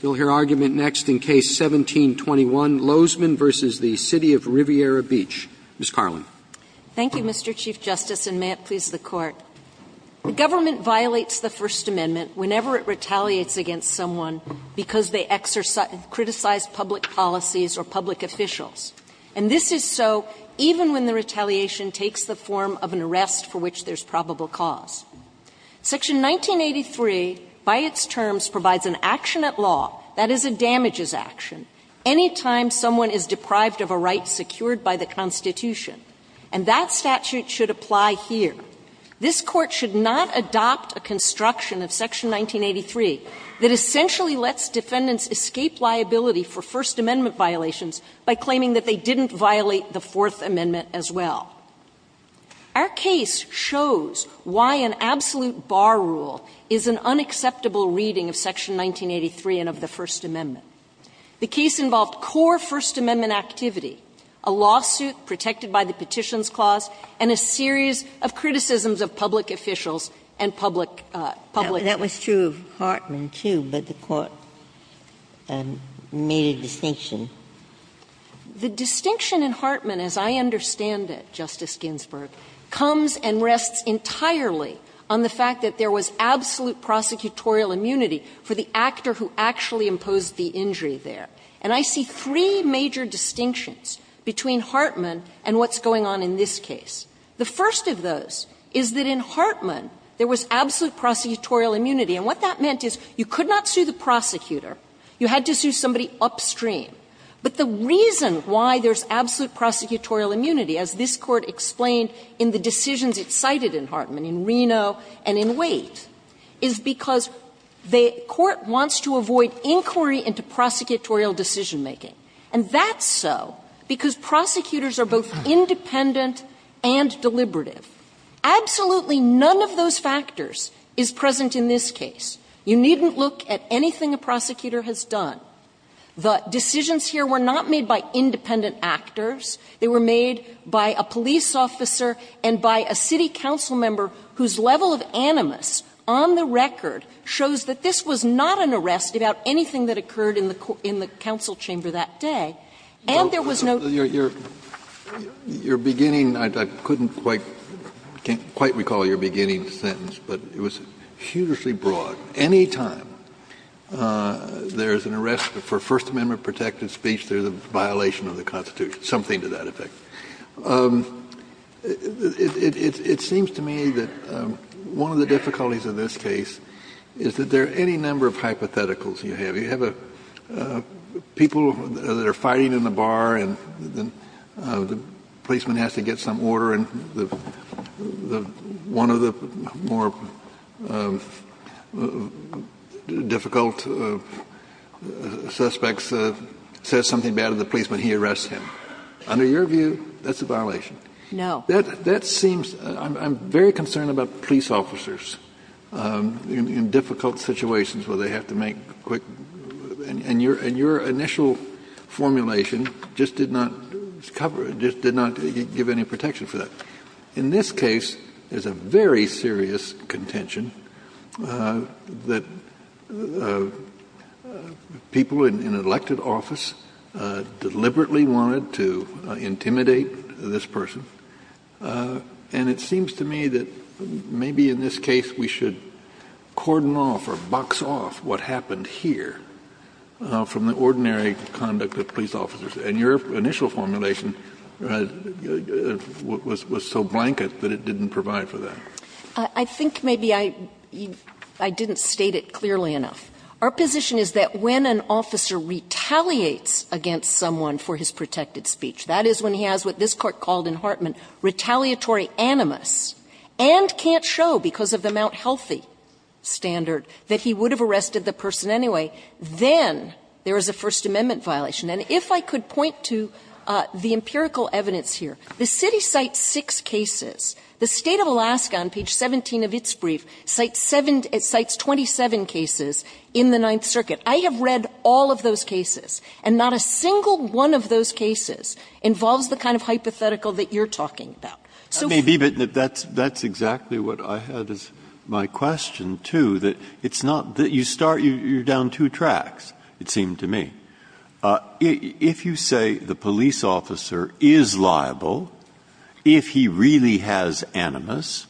You'll hear argument next in Case 17-21, Lozman v. The City of Riviera Beach. Ms. Karlin. Thank you, Mr. Chief Justice, and may it please the Court. The government violates the First Amendment whenever it retaliates against someone because they criticize public policies or public officials, and this is so even when the retaliation takes the form of an arrest for which there's probable cause. Section 1983, by its terms, provides an action at law, that is, a damages action, any time someone is deprived of a right secured by the Constitution, and that statute should apply here. This Court should not adopt a construction of Section 1983 that essentially lets defendants escape liability for First Amendment violations by claiming that they didn't violate the Fourth Amendment as well. Our case shows why an absolute bar rule is an unacceptable reading of Section 1983 and of the First Amendment. The case involved core First Amendment activity, a lawsuit protected by the Petitions Clause, and a series of criticisms of public officials and public law. Ginsburg. That was true of Hartman, too, but the Court made a distinction. The distinction in Hartman, as I understand it, Justice Ginsburg, comes and rests entirely on the fact that there was absolute prosecutorial immunity for the actor who actually imposed the injury there. And I see three major distinctions between Hartman and what's going on in this case. The first of those is that in Hartman there was absolute prosecutorial immunity, and what that meant is you could not sue the prosecutor, you had to sue somebody upstream. But the reason why there's absolute prosecutorial immunity, as this Court explained in the decisions it cited in Hartman, in Reno and in Waite, is because the Court wants to avoid inquiry into prosecutorial decision-making. And that's so because prosecutors are both independent and deliberative. Absolutely none of those factors is present in this case. You needn't look at anything a prosecutor has done. The decisions here were not made by independent actors. They were made by a police officer and by a city council member whose level of animus on the record shows that this was not an arrest about anything that occurred in the council chamber that day. And there was no ---- Kennedy, your beginning, I couldn't quite recall your beginning sentence, but it was hugely broad. Any time there's an arrest for First Amendment-protected speech, there's a violation of the Constitution, something to that effect. It seems to me that one of the difficulties of this case is that there are any number of hypotheticals you have. You have people that are fighting in the bar and the policeman has to get some order and the one of the more difficult suspects says something bad to the policeman, he arrests him. Under your view, that's a violation. No. That seems to me, I'm very concerned about police officers in difficult situations where they have to make quick, and your initial formulation just did not cover, just did not give any protection for that. In this case, there's a very serious contention that people in elected office deliberately wanted to intimidate this person, and it seems to me that maybe in this case we should cordon off or box off what happened here from the ordinary conduct of police officers. And your initial formulation was so blanket that it didn't provide for that. I think maybe I didn't state it clearly enough. Our position is that when an officer retaliates against someone for his protected speech, that is when he has what this Court called in Hartman retaliatory animus and can't show because of the Mount Healthy standard that he would have arrested the person anyway, then there is a First Amendment violation. And if I could point to the empirical evidence here, the city cites six cases. The State of Alaska on page 17 of its brief cites 27 cases in the Ninth Circuit. I have read all of those cases, and not a single one of those cases involves the kind of hypothetical that you're talking about. Breyer, that may be, but that's exactly what I had as my question, too, that it's not that you start, you're down two tracks, it seemed to me. If you say the police officer is liable, if he really has animus,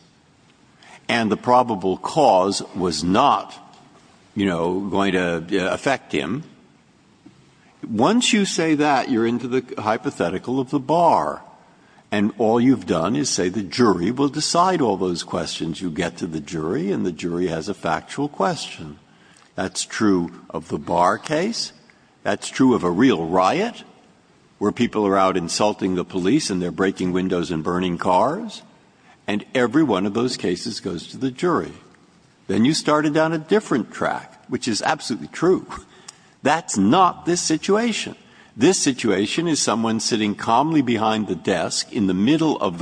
and the probable cause was not, you know, going to affect him, once you say that, you're into the hypothetical of the bar. And all you've done is say the jury will decide all those questions. You get to the jury, and the jury has a factual question. That's true of the bar case. That's true of a real riot, where people are out insulting the police and they're breaking windows and burning cars. And every one of those cases goes to the jury. Then you started down a different track, which is absolutely true. That's not this situation. This situation is someone sitting calmly behind the desk in the middle of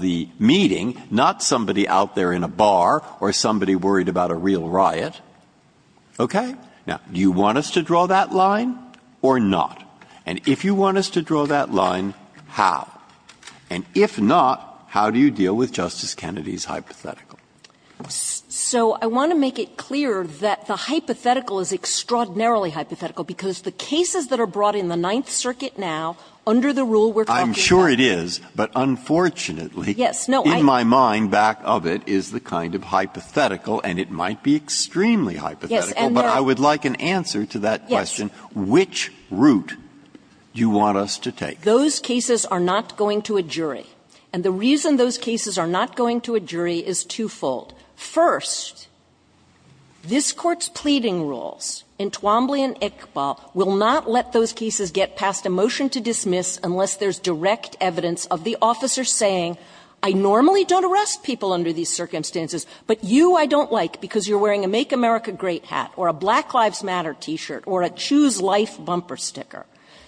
the meeting, not somebody out there in a bar or somebody worried about a real riot. Okay? Now, do you want us to draw that line or not? And if you want us to draw that line, how? And if not, how do you deal with Justice Kennedy's hypothetical? So I want to make it clear that the hypothetical is extraordinarily hypothetical because the cases that are brought in the Ninth Circuit now, under the rule we're in right now, are not going to a jury. And the reason those cases are not going to a jury is two-fold. First, this Court's pleading rules in Twombly and Iqbal will not let those cases get past a motion to dismiss unless there's direct evidence of the officer saying, but you, I don't like, because you're wearing a Make America Great hat or a Black Lives Matter T-shirt or a Choose Life bumper sticker.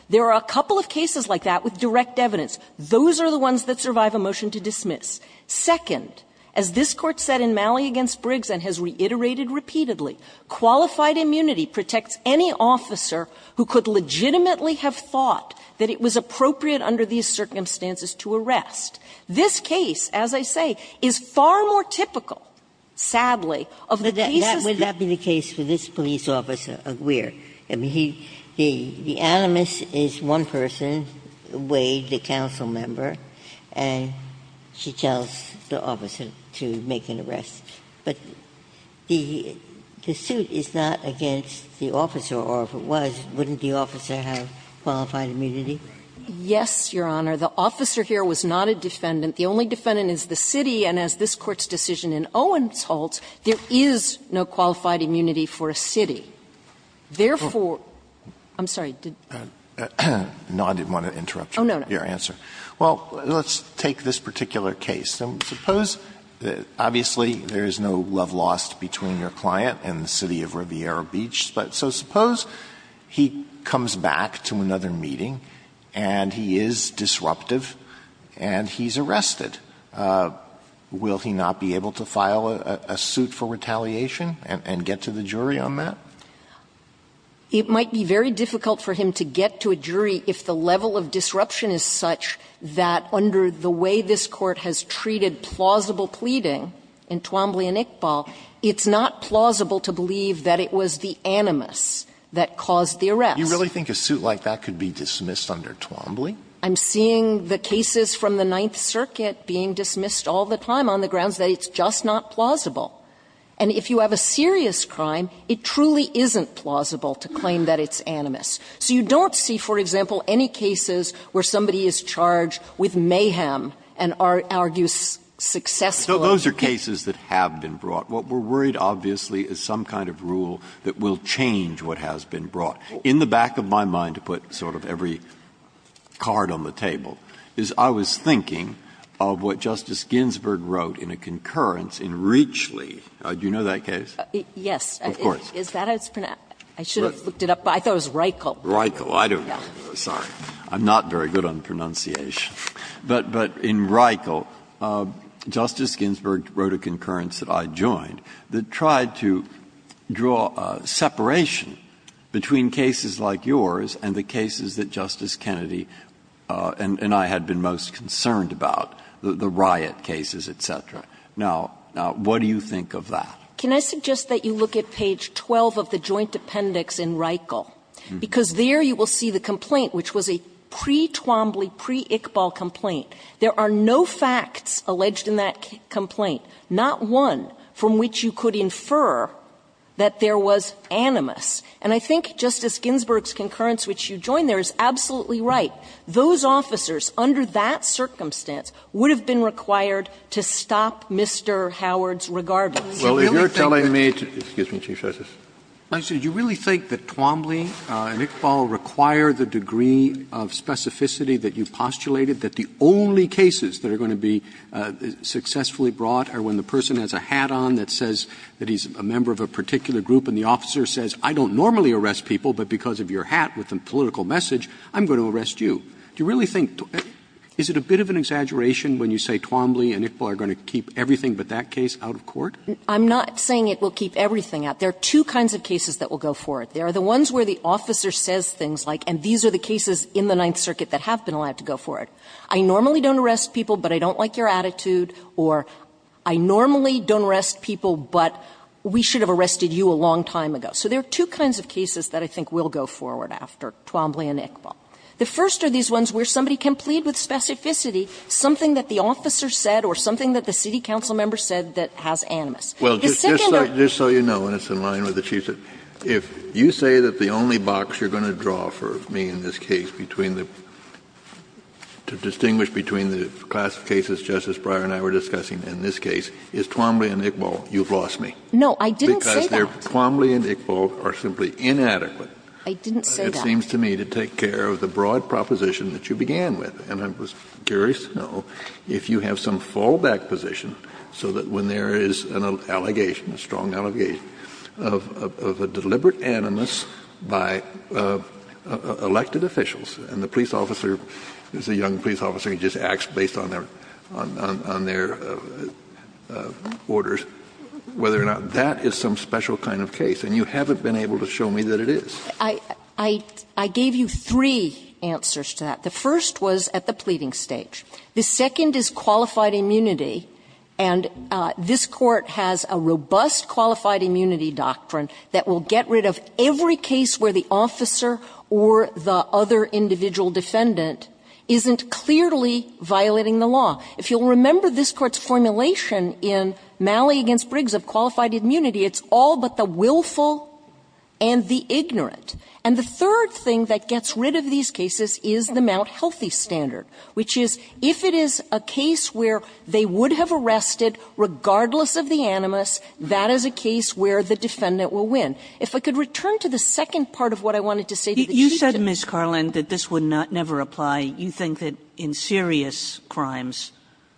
There are a couple of cases like that with direct evidence. Those are the ones that survive a motion to dismiss. Second, as this Court said in Malley v. Briggs and has reiterated repeatedly, qualified immunity protects any officer who could legitimately have thought that it was appropriate under these circumstances to arrest. This case, as I say, is far more typical, sadly, of the cases that we've seen. Ginsburg-Miller That would not be the case for this police officer, Aguirre. I mean, he the animus is one person, Wade, the council member, and she tells the officer to make an arrest, but the suit is not against the officer, or if it was, wouldn't the officer have qualified immunity? Yes, Your Honor. The officer here was not a defendant. The only defendant is the city, and as this Court's decision in Owens holds, there is no qualified immunity for a city. Therefore, I'm sorry, did you? Alito No, I didn't want to interrupt your answer. Well, let's take this particular case. Suppose, obviously, there is no love lost between your client and the city of Riviera and he is disruptive and he's arrested. Will he not be able to file a suit for retaliation and get to the jury on that? It might be very difficult for him to get to a jury if the level of disruption is such that under the way this Court has treated plausible pleading in Twombly and Iqbal, it's not plausible to believe that it was the animus that caused the arrest. Do you really think a suit like that could be dismissed under Twombly? I'm seeing the cases from the Ninth Circuit being dismissed all the time on the grounds that it's just not plausible. And if you have a serious crime, it truly isn't plausible to claim that it's animus. So you don't see, for example, any cases where somebody is charged with mayhem and argues successfully. So those are cases that have been brought. What we're worried, obviously, is some kind of rule that will change what has been brought. In the back of my mind, to put sort of every card on the table, is I was thinking of what Justice Ginsburg wrote in a concurrence in Reachley. Do you know that case? Of course. I should have looked it up. I thought it was Reichel. Reichel. I don't know. Sorry. I'm not very good on pronunciation. But in Reichel, Justice Ginsburg wrote a concurrence that I joined that tried to draw separation between cases like yours and the cases that Justice Kennedy and I had been most concerned about, the riot cases, et cetera. Now, what do you think of that? Can I suggest that you look at page 12 of the joint appendix in Reichel? Because there you will see the complaint, which was a pre-Twombly, pre-Iqbal complaint. There are no facts alleged in that complaint, not one from which you could infer that there was animus. And I think Justice Ginsburg's concurrence, which you joined there, is absolutely right. Those officers, under that circumstance, would have been required to stop Mr. Howard's regard. Roberts. Well, if you're telling me to do this, you really think that Twombly and Iqbal require the degree of specificity that you postulated, that the only cases that are going to be successfully brought are when the person has a hat on that says that he's a member of a particular group and the officer says, I don't normally arrest people, but because of your hat with a political message, I'm going to arrest you. Do you really think to me, is it a bit of an exaggeration when you say Twombly and Iqbal are going to keep everything but that case out of court? I'm not saying it will keep everything out. There are two kinds of cases that will go forward. There are the ones where the officer says things like, and these are the cases in the Ninth Circuit that have been allowed to go forward. I normally don't arrest people, but I don't like your attitude, or I normally don't arrest people, but we should have arrested you a long time ago. So there are two kinds of cases that I think will go forward after Twombly and Iqbal. The first are these ones where somebody can plead with specificity something that the officer said or something that the city council member said that has animus. The second are the cases that are going to go forward. Kennedy, just so you know, and it's in line with the Chief's, if you say that the to distinguish between the class of cases Justice Breyer and I were discussing in this case is Twombly and Iqbal, you've lost me. No, I didn't say that. Because Twombly and Iqbal are simply inadequate. I didn't say that. It seems to me to take care of the broad proposition that you began with, and I was curious to know if you have some fallback position so that when there is an allegation, a strong allegation, of a deliberate animus by elected officials, and the police officer is a young police officer who just acts based on their orders, whether or not that is some special kind of case. And you haven't been able to show me that it is. I gave you three answers to that. The first was at the pleading stage. The second is qualified immunity. And this Court has a robust qualified immunity doctrine that will get rid of every case where the officer or the other individual defendant isn't clearly violating the law. If you'll remember this Court's formulation in Malley v. Briggs of qualified immunity, it's all but the willful and the ignorant. And the third thing that gets rid of these cases is the Mount Healthy standard, which is if it is a case where they would have arrested regardless of the animus, that is a case where the defendant will win. If I could return to the second part of what I wanted to say to the Chief. Kagan You said, Ms. Carlin, that this would never apply. You think that in serious crimes,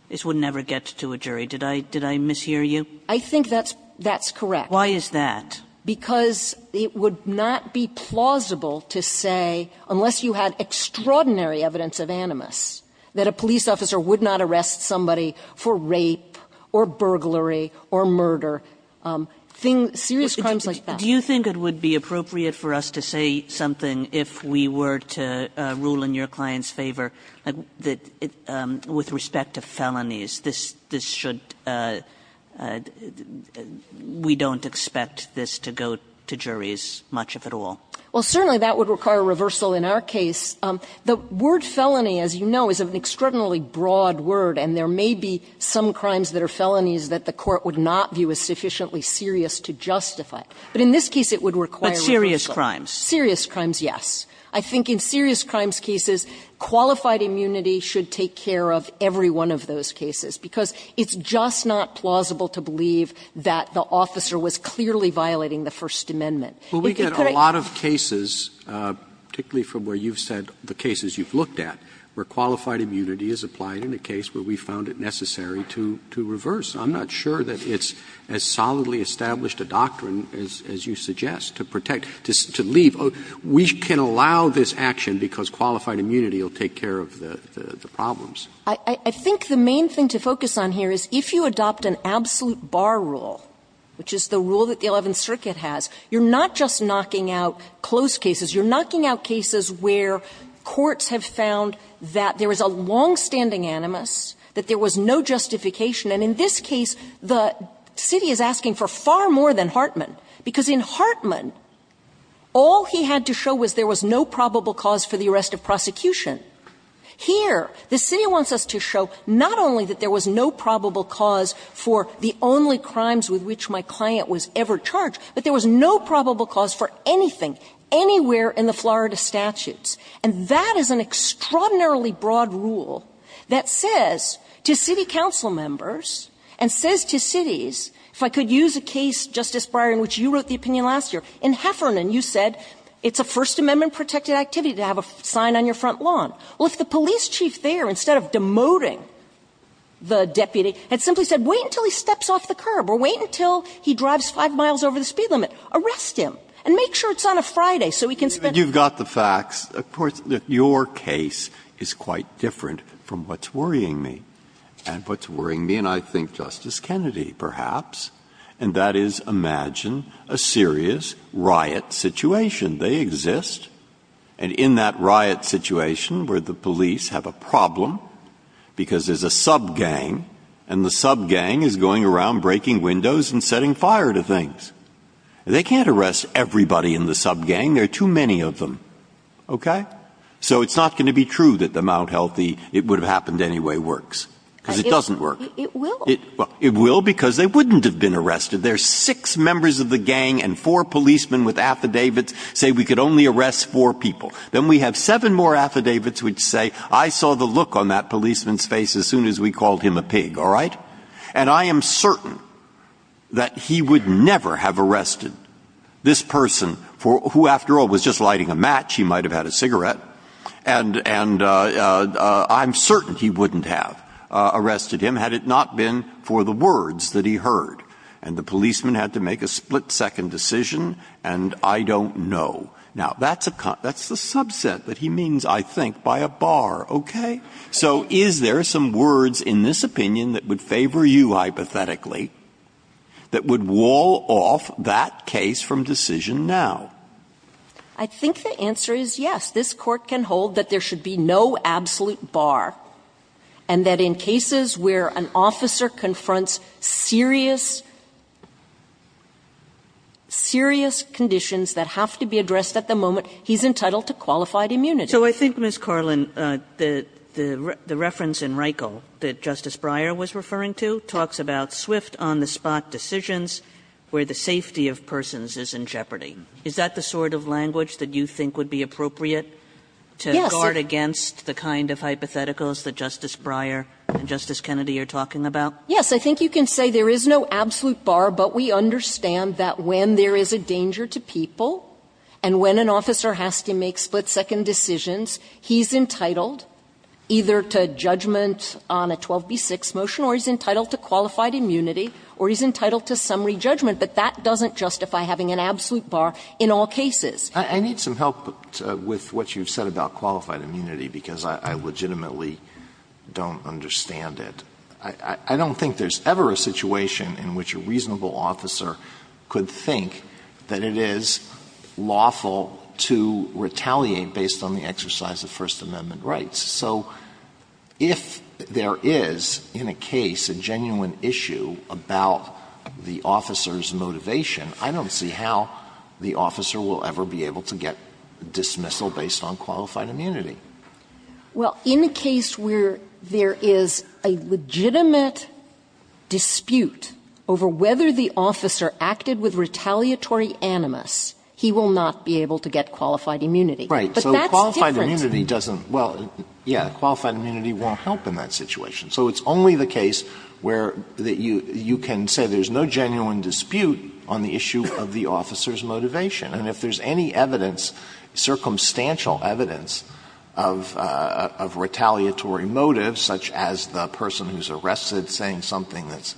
this would never get to a jury. Did I mishear you? Carlin I think that's correct. Kagan Why is that? Carlin Because it would not be plausible to say, unless you had extraordinary evidence of animus, that a police officer would not arrest somebody for rape or burglary or murder, things, serious crimes like that. Kagan Do you think it would be appropriate for us to say something, if we were to rule in your client's favor, that with respect to felonies, this should, we don't expect this to go to juries, much of it all? Carlin Well, certainly that would require reversal in our case. The word felony, as you know, is an extraordinarily broad word, and there may be some crimes that are felonies that the Court would not view as sufficiently serious to justify. But in this case, it would require reversal. Sotomayor But serious crimes. Carlin Serious crimes, yes. I think in serious crimes cases, qualified immunity should take care of every one of those cases, because it's just not plausible to believe that the officer was clearly violating the First Amendment. Roberts Well, we get a lot of cases, particularly from where you've said, the cases you've looked at, where qualified immunity is applied in a case where we found it necessary to reverse. I'm not sure that it's as solidly established a doctrine as you suggest, to protect, to leave. We can allow this action because qualified immunity will take care of the problems. Carlin I think the main thing to focus on here is if you adopt an absolute bar rule, which is the rule that the Eleventh Circuit has, you're not just knocking out closed cases, you're knocking out cases where courts have found that there was a longstanding animus, that there was no justification. And in this case, the city is asking for far more than Hartman, because in Hartman, all he had to show was there was no probable cause for the arrest of prosecution. Here, the city wants us to show not only that there was no probable cause for the only crimes with which my client was ever charged, but there was no probable cause for anything, anywhere in the Florida statutes. And that is an extraordinarily broad rule that says to city council members and says to cities, if I could use a case, Justice Breyer, in which you wrote the opinion last year. In Heffernan, you said it's a First Amendment-protected activity to have a sign on your front lawn. Well, if the police chief there, instead of demoting the deputy, had simply said, wait until he steps off the curb, or wait until he drives 5 miles over the speed limit, arrest him, and make sure it's on a Friday so he can spend the night. And you've got the facts. Of course, your case is quite different from what's worrying me. And what's worrying me, and I think Justice Kennedy, perhaps, and that is, imagine a serious riot situation. They exist. And in that riot situation, where the police have a problem, because there's a sub-gang, and the sub-gang is going around breaking windows and setting fire to things. They can't arrest everybody in the sub-gang. There are too many of them, okay? So it's not going to be true that the Mount Healthy, it would have happened anyway, works, because it doesn't work. It will. Well, it will, because they wouldn't have been arrested. There are six members of the gang and four policemen with affidavits say, we could only arrest four people. Then we have seven more affidavits which say, I saw the look on that policeman's face as soon as we called him a pig, all right? And I am certain that he would never have arrested this person, who, after all, was just lighting a match. He might have had a cigarette. And I'm certain he wouldn't have arrested him, had it not been for the words that he heard, and the policeman had to make a split-second decision, and I don't know. Now, that's the subset that he means, I think, by a bar, okay? So is there some words in this opinion that would favor you, hypothetically, that would wall off that case from decision now? I think the answer is yes. This court can hold that there should be no absolute bar, and that in cases where an officer confronts serious, serious conditions that have to be addressed at the moment, he's entitled to qualified immunity. So I think, Ms. Carlin, the reference in Reichel that Justice Breyer was referring to talks about swift, on-the-spot decisions where the safety of persons is in jeopardy. Is that the sort of language that you think would be appropriate to guard against the kind of hypotheticals that Justice Breyer and Justice Kennedy are talking about? Yes, I think you can say there is no absolute bar, but we understand that when there is a danger to people and when an officer has to make split-second decisions, he's entitled either to judgment on a 12b-6 motion, or he's entitled to qualified immunity, or he's entitled to summary judgment, but that doesn't justify having an absolute bar in all cases. I need some help with what you've said about qualified immunity, because I legitimately don't understand it. I don't think there's ever a situation in which a reasonable officer could think that it is lawful to retaliate based on the exercise of First Amendment rights. So if there is, in a case, a genuine issue about the officer's motivation, I don't see how the officer will ever be able to get dismissal based on qualified immunity. Well, in a case where there is a legitimate dispute over whether the officer acted with retaliatory animus, he will not be able to get qualified immunity. Right. But that's different. So qualified immunity doesn't – well, yeah, qualified immunity won't help in that situation. So it's only the case where you can say there's no genuine dispute on the issue of the officer's motivation. And if there's any evidence, circumstantial evidence, of retaliatory motives, such as the person who's arrested saying something that's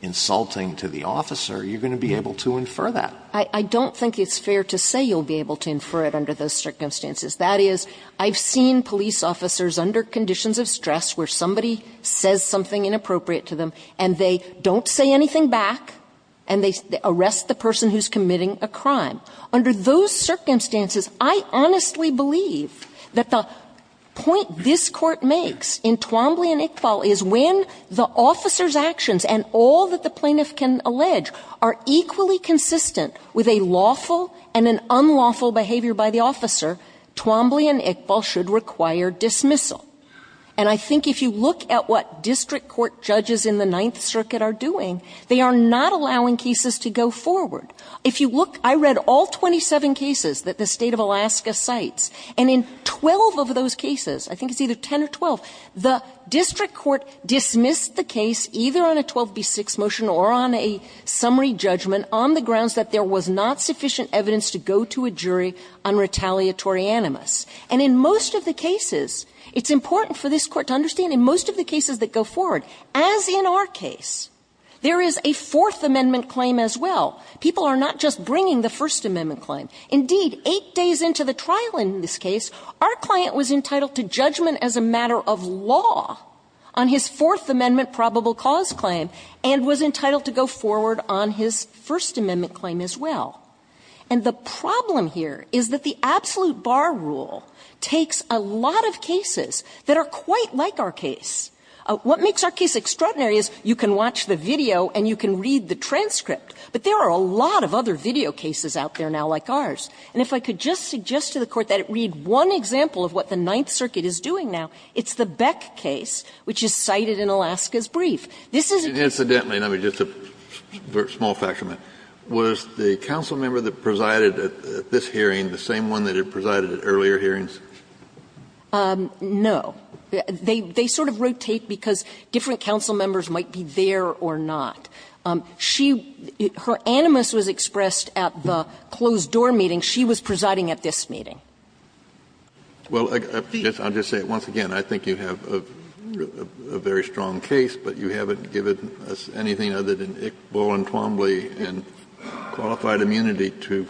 insulting to the officer, you're going to be able to infer that. I don't think it's fair to say you'll be able to infer it under those circumstances. That is, I've seen police officers under conditions of stress where somebody says something inappropriate to them, and they don't say anything back, and they arrest the person who's committing a crime. Under those circumstances, I honestly believe that the point this Court makes in Twombly and Iqbal is when the officer's actions and all that the plaintiff can allege are equally consistent with a lawful and an unlawful behavior by the officer, Twombly and Iqbal should require dismissal. And I think if you look at what district court judges in the Ninth Circuit are doing, they are not allowing cases to go forward. If you look – I read all 27 cases that the State of Alaska cites, and in 12 of those cases, I think it's either 10 or 12, the district court dismissed the case either on a 12b-6 motion or on a summary judgment on the grounds that there was not sufficient evidence to go to a jury unretaliatory animus. And in most of the cases, it's important for this Court to understand, in most of the cases that go forward, as in our case, there is a Fourth Amendment claim as well. People are not just bringing the First Amendment claim. Indeed, eight days into the trial in this case, our client was entitled to judgment as a matter of law on his Fourth Amendment probable cause claim and was entitled to go forward on his First Amendment claim as well. And the problem here is that the absolute bar rule takes a lot of cases that are quite like our case. What makes our case extraordinary is you can watch the video and you can read the And if I could just suggest to the Court that it read one example of what the Ninth Circuit is doing now, it's the Beck case, which is cited in Alaska's brief. This is a case that's very similar to the Beck case. Kennedy, incidentally, just a small factor, was the council member that presided at this hearing the same one that had presided at earlier hearings? No. They sort of rotate because different council members might be there or not. She – her animus was expressed at the closed door meeting. She was presiding at this meeting. Well, I'll just say once again, I think you have a very strong case, but you haven't given us anything other than ink, bowl and Plombley and qualified immunity to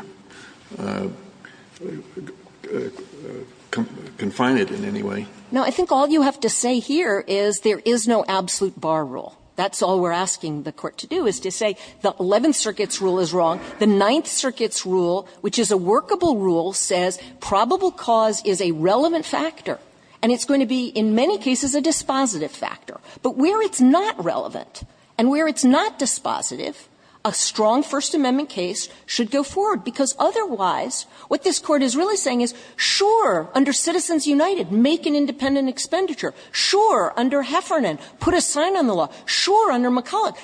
confine it in any way. No, I think all you have to say here is there is no absolute bar rule. That's all we're asking the Court to do, is to say the Eleventh Circuit's rule is wrong. The Ninth Circuit's rule, which is a workable rule, says probable cause is a relevant factor, and it's going to be in many cases a dispositive factor. But where it's not relevant and where it's not dispositive, a strong First Amendment case should go forward, because otherwise what this Court is really saying is, sure, under Citizens United, make an independent expenditure. Sure, under Heffernan, put a sign on the law. Sure, under McCulloch,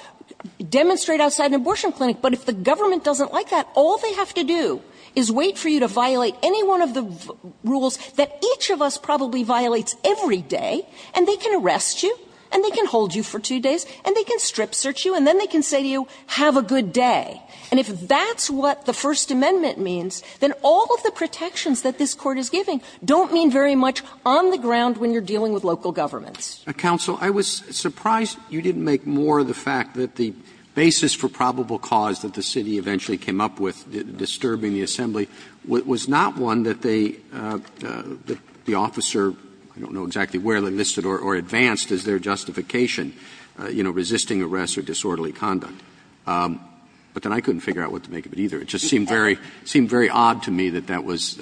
demonstrate outside an abortion clinic. But if the government doesn't like that, all they have to do is wait for you to violate any one of the rules that each of us probably violates every day, and they can arrest you and they can hold you for two days and they can strip search you and then they can say to you, have a good day. And if that's what the First Amendment means, then all of the protections that this Court is giving don't mean very much on the ground when you're dealing with local governments. Roberts I was surprised you didn't make more of the fact that the basis for probable cause that the city eventually came up with disturbing the assembly was not one that they, the officer, I don't know exactly where they listed or advanced as their justification, you know, resisting arrest or disorderly conduct. But then I couldn't figure out what to make of it either. It just seemed very odd to me that that was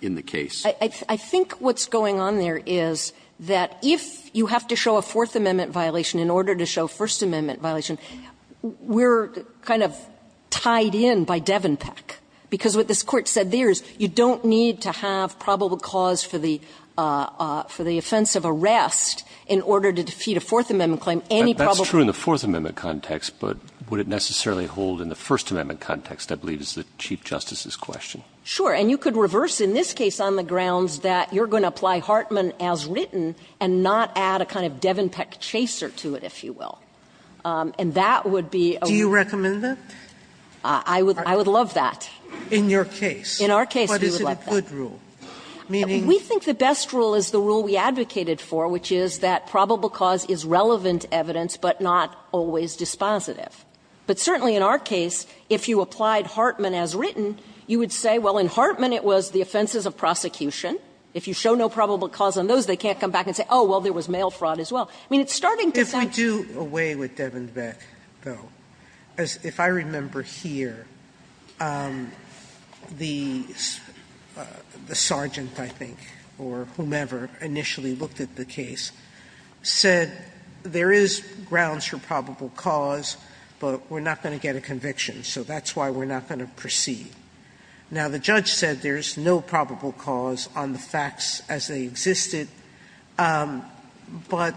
in the case. I think what's going on there is that if you have to show a Fourth Amendment violation in order to show First Amendment violation, we're kind of tied in by Devon Peck, because what this Court said there is you don't need to have probable cause for the offensive arrest in order to defeat a Fourth Amendment claim. Any probable cause. Roberts That's true in the Fourth Amendment context, but would it necessarily hold in the First Amendment context, I believe is the Chief Justice's question. Sure. And you could reverse in this case on the grounds that you're going to apply Hartman as written and not add a kind of Devon Peck chaser to it, if you will. And that would be a rule. Sotomayor Do you recommend that? Roberts I would love that. In your case. Roberts In our case, we would let that. Sotomayor But is it a good rule? Meaning? Roberts We think the best rule is the rule we advocated for, which is that probable cause is relevant evidence, but not always dispositive. But certainly in our case, if you applied Hartman as written, you would say, well, in Hartman it was the offenses of prosecution. If you show no probable cause on those, they can't come back and say, oh, well, there was mail fraud as well. I mean, it's starting to sound like a rule. Sotomayor If we do away with Devon Peck, though, if I remember here, the sergeant, I think, or whomever, initially looked at the case, said there is grounds for probable cause, but we're not going to get a conviction, so that's why we're not going to proceed. Now, the judge said there's no probable cause on the facts as they existed, but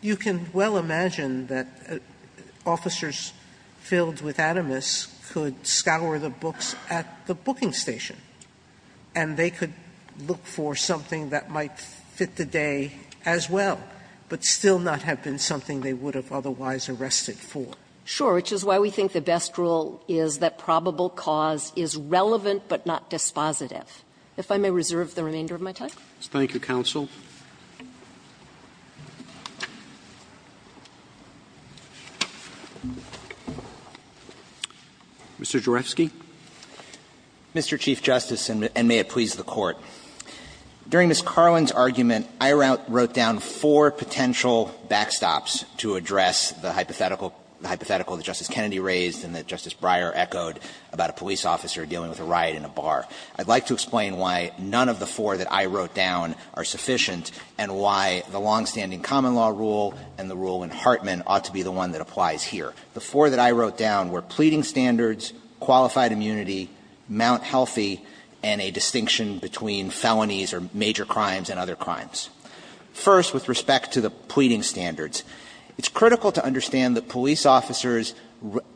you can well imagine that officers filled with animus could scour the books at the booking station, and they could look for something that might fit the day as well, but still not have been something they would have otherwise arrested for. Sure. Which is why we think the best rule is that probable cause is relevant but not dispositive. If I may reserve the remainder of my time. Thank you, counsel. Mr. Jurefsky. Mr. Chief Justice, and may it please the Court. During Ms. Carlin's argument, I wrote down four potential backstops to address the hypothetical that Justice Kennedy raised and that Justice Breyer echoed about a police officer dealing with a riot in a bar. I'd like to explain why none of the four that I wrote down are sufficient and why the longstanding common law rule and the rule in Hartman ought to be the one that applies here. The four that I wrote down were pleading standards, qualified immunity, Mount Healthy, and a distinction between felonies or major crimes and other crimes. First, with respect to the pleading standards, it's critical to understand that police officers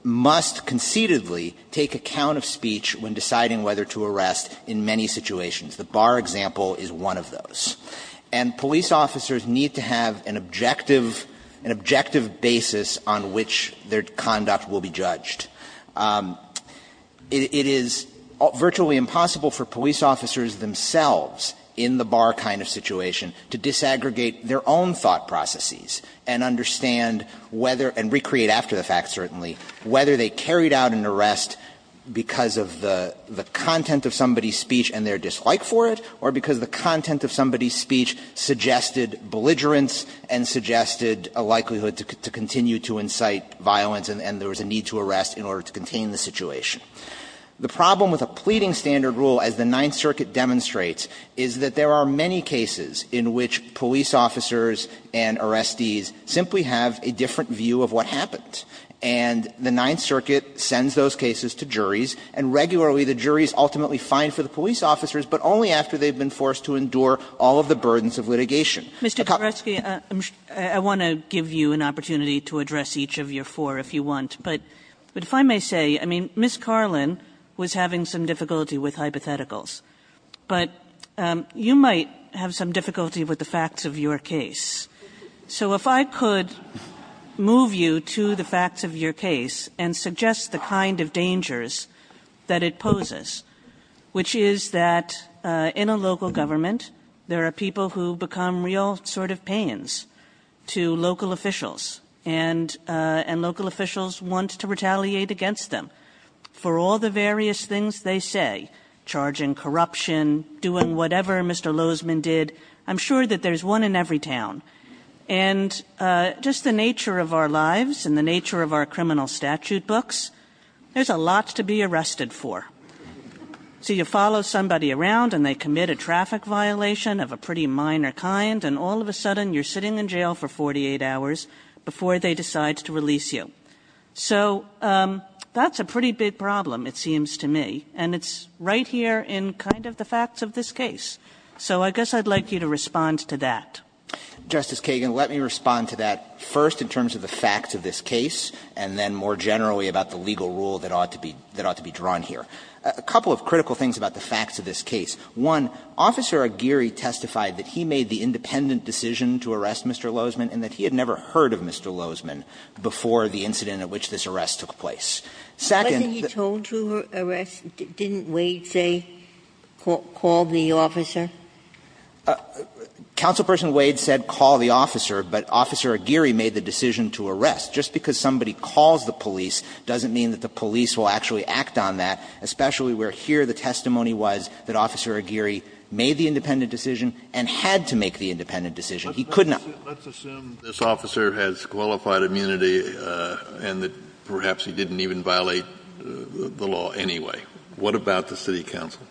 must concededly take account of speech when deciding whether to arrest in many situations. The bar example is one of those. And police officers need to have an objective basis on which their conduct will be judged. It is virtually impossible for police officers themselves in the bar kind of situation to disaggregate their own thought processes and understand whether – and recreate after the fact, certainly – whether they carried out an arrest because of the content of somebody's speech and their dislike for it or because the content of somebody's The problem with a pleading standard rule, as the Ninth Circuit demonstrates, is that there are many cases in which police officers and arrestees simply have a different view of what happened. And the Ninth Circuit sends those cases to juries, and regularly the jury is ultimately fined for the police officers, but only after they've been forced to endure all of the burdens of litigation. Kagan. Kagan. I can give you an opportunity to address each of your four if you want, but if I may say, I mean, Ms. Carlin was having some difficulty with hypotheticals, but you might have some difficulty with the facts of your case. So if I could move you to the facts of your case and suggest the kind of dangers that it poses, which is that in a local government, there are people who become real sort of pains to local officials, and local officials want to retaliate against them for all the various things they say, charging corruption, doing whatever Mr. Lozman did. I'm sure that there's one in every town. And just the nature of our lives and the nature of our criminal statute books, there's a lot to be arrested for. So you follow somebody around and they commit a traffic violation of a pretty minor kind, and all of a sudden you're sitting in jail for 48 hours before they decide to release you. So that's a pretty big problem, it seems to me, and it's right here in kind of the facts of this case. So I guess I'd like you to respond to that. Justice Kagan, let me respond to that first in terms of the facts of this case and then more generally about the legal rule that ought to be drawn here. A couple of critical things about the facts of this case. One, Officer Aguirre testified that he made the independent decision to arrest Mr. Lozman and that he had never heard of Mr. Lozman before the incident at which this arrest took place. Second, the ---- Ginsburg Wasn't he told to arrest? Didn't Wade say, call the officer? Counselperson Wade said call the officer, but Officer Aguirre made the decision to arrest. Just because somebody calls the police doesn't mean that the police will actually act on that, especially where here the testimony was that Officer Aguirre made the independent decision and had to make the independent decision. He could not. Kennedy Let's assume this officer has qualified immunity and that perhaps he didn't even violate the law anyway. What about the city council?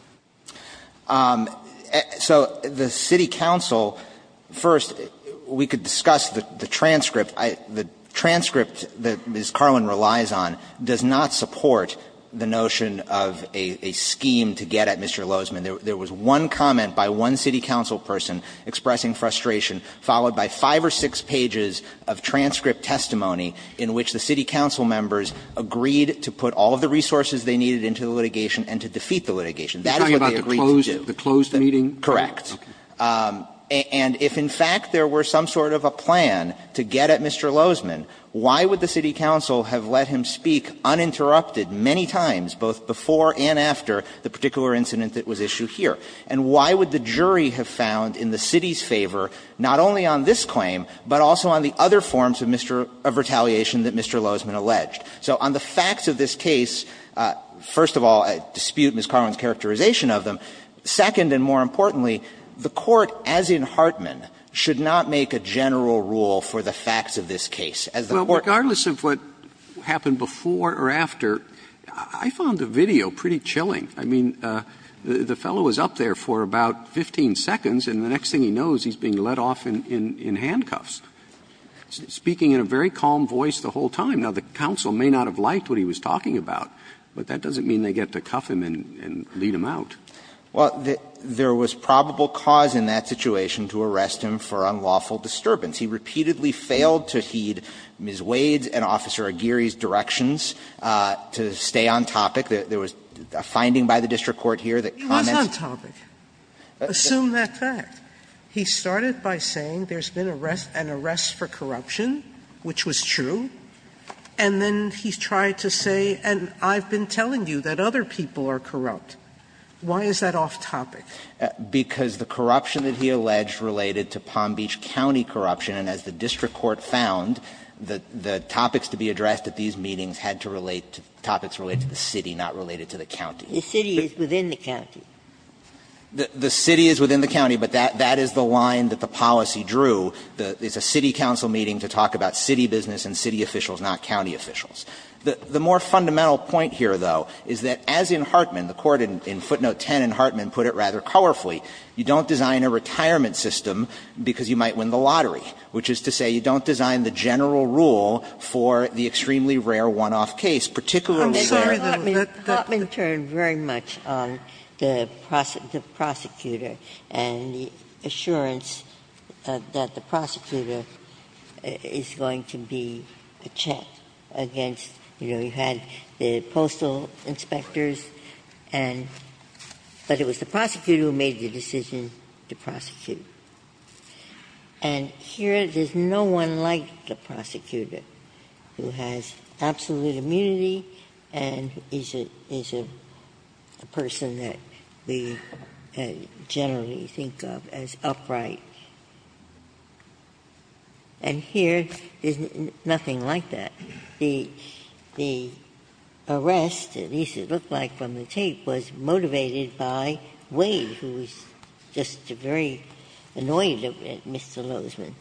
So the city council, first, we could discuss the transcript. The transcript that Ms. Carlin relies on does not support the notion of a scheme to get at Mr. Lozman. There was one comment by one city council person expressing frustration, followed by five or six pages of transcript testimony in which the city council members agreed to put all of the resources they needed into the litigation and to defeat the litigation. That is what they agreed to do. Roberts You're talking about the closed meeting? Kennedy Correct. And if in fact there were some sort of a plan to get at Mr. Lozman, why would the city council have let him speak uninterrupted many times, both before and after the particular incident that was issued here? And why would the jury have found in the city's favor not only on this claim, but also on the other forms of retaliation that Mr. Lozman alleged? So on the facts of this case, first of all, I dispute Ms. Carlin's characterization of them. Second, and more importantly, the Court, as in Hartman, should not make a general rule for the facts of this case. As the Court Roberts Well, regardless of what happened before or after, I found the video pretty chilling. I mean, the fellow was up there for about 15 seconds, and the next thing he knows, he's being let off in handcuffs, speaking in a very calm voice the whole time. Now, the council may not have liked what he was talking about, but that doesn't mean they get to cuff him and lead him out. Well, there was probable cause in that situation to arrest him for unlawful disturbance. He repeatedly failed to heed Ms. Wade's and Officer Aguirre's directions to stay on topic. There was a finding by the district court here that comments He was on topic. Assume that fact. He started by saying there's been an arrest for corruption, which was true, and then he tried to say, and I've been telling you that other people are corrupt. Why is that off topic? Because the corruption that he alleged related to Palm Beach County corruption, and as the district court found, the topics to be addressed at these meetings had to relate to topics related to the city, not related to the county. The city is within the county. The city is within the county, but that is the line that the policy drew. It's a city council meeting to talk about city business and city officials, not county officials. The more fundamental point here, though, is that as in Hartman, the Court in footnote 10 in Hartman put it rather colorfully, you don't design a retirement system because you might win the lottery, which is to say you don't design the general rule for the extremely rare one-off case, particularly there. Sotomayor, Hartman turned very much on the prosecutor and the assurance that the prosecutor is going to be a check against, you know, you had the postal inspectors, but it was the prosecutor who made the decision to prosecute. And here, there's no one like the prosecutor, who has absolute immunity and is a person that we generally think of as upright. And here, there's nothing like that. The arrest, at least it looked like from the tape, was motivated by Wade, who was just very annoyed at Mr. Lozman.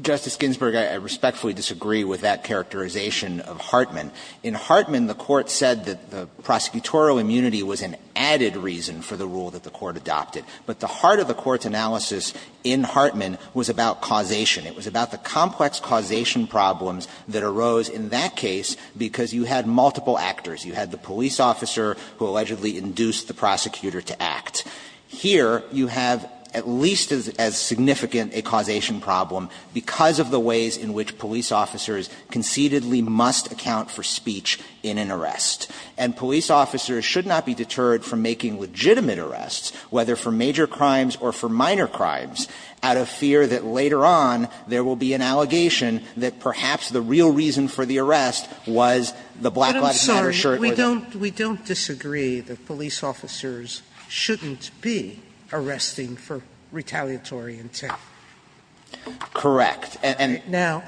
Justice Ginsburg, I respectfully disagree with that characterization of Hartman. In Hartman, the Court said that the prosecutorial immunity was an added reason for the rule that the Court adopted. But the heart of the Court's analysis in Hartman was about causation. It was about the complex causation problems that arose in that case because you had multiple actors. You had the police officer who allegedly induced the prosecutor to act. Here, you have at least as significant a causation problem because of the ways in which police officers concededly must account for speech in an arrest. And police officers should not be deterred from making legitimate arrests, whether for major crimes or for minor crimes, out of fear that later on, there will be an allegation that perhaps the real reason for the arrest was the black lab coat or the shirt. Sotomayor, we don't disagree that police officers shouldn't be arresting for retaliatory intent. Correct. Now,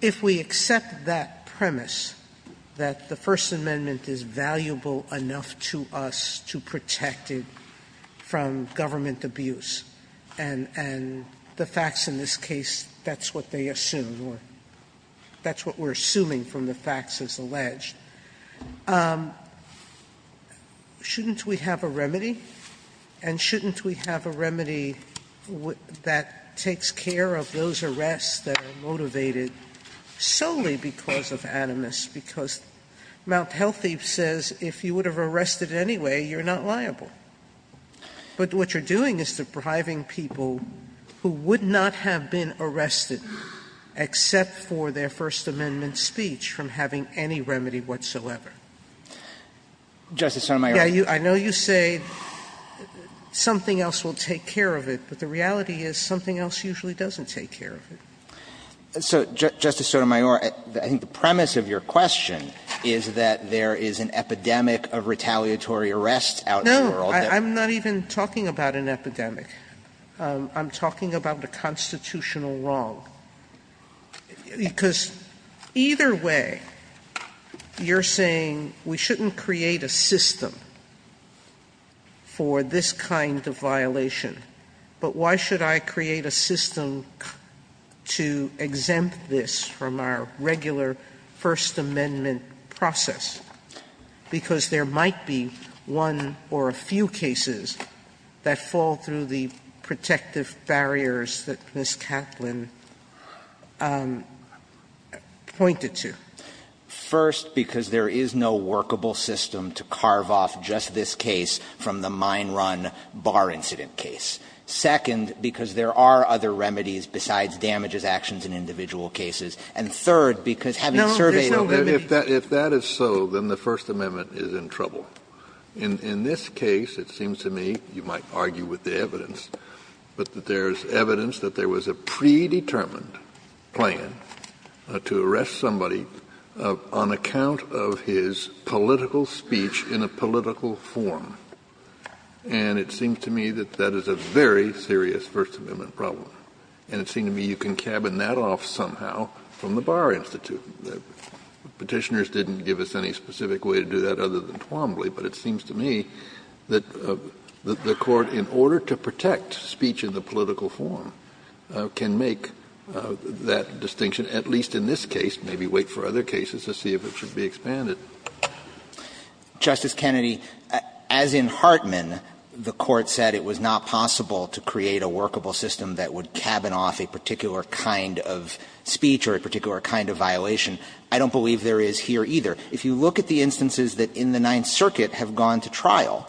if we accept that premise, that the First Amendment is valuable enough to us to protect it from government abuse, and the facts in this case, that's what they assume or that's what we're assuming from the facts as alleged, shouldn't we have a remedy? And shouldn't we have a remedy that takes care of those arrests that are motivated solely because of animus, because Mount Healthy says if you would have arrested anyway, you're not liable. But what you're doing is depriving people who would not have been arrested except for their First Amendment speech from having any remedy whatsoever. Justice Sotomayor. Yeah, I know you say something else will take care of it, but the reality is something else usually doesn't take care of it. So, Justice Sotomayor, I think the premise of your question is that there is an epidemic of retaliatory arrests out in the world. No, I'm not even talking about an epidemic. I'm talking about the constitutional wrong, because either way, you're saying we shouldn't create a system for this kind of violation, but why should I create a system to exempt this from our regular First Amendment process, because there might be one or a few cases that fall through the protective barriers that Ms. Catlin pointed to? First, because there is no workable system to carve off just this case from the mine run bar incident case. Second, because there are other remedies besides damages, actions in individual cases. And third, because having surveyed the limit. Kennedy, if that is so, then the First Amendment is in trouble. In this case, it seems to me, you might argue with the evidence, but there is evidence that there was a predetermined plan to arrest somebody on account of his political speech in a political form. And it seems to me that that is a very serious First Amendment problem. And it seems to me you can cabin that off somehow from the Bar Institute. Petitioners didn't give us any specific way to do that other than Twombly, but it seems to me that the Court, in order to protect speech in the political form, can make that distinction, at least in this case, maybe wait for other cases to see if it should be expanded. Justice Kennedy, as in Hartman, the Court said it was not possible to create a workable system that would cabin off a particular kind of speech or a particular kind of violation. I don't believe there is here either. If you look at the instances that in the Ninth Circuit have gone to trial,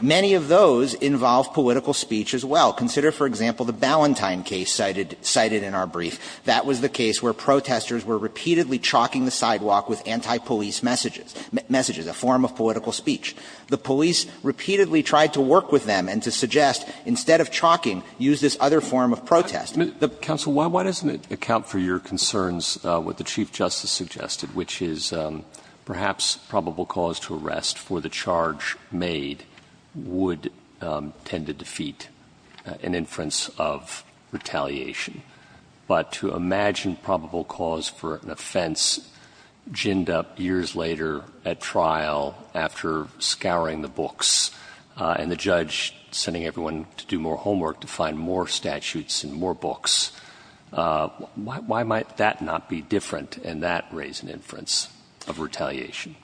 many of those involve political speech as well. Consider, for example, the Ballantyne case cited in our brief. That was the case where protesters were repeatedly chalking the sidewalk with anti-police messages, messages, a form of political speech. The police repeatedly tried to work with them and to suggest, instead of chalking, use this other form of protest. Roberts Counsel, why doesn't it account for your concerns with the Chief Justice suggested, which is perhaps probable cause to arrest for the charge made would tend to defeat an inference of retaliation, but to imagine probable cause for an offense ginned up years later at trial after scouring the books and the judge sending everyone to do more homework to find more statutes and more books, why might that not be different and that raise an inference of retaliation?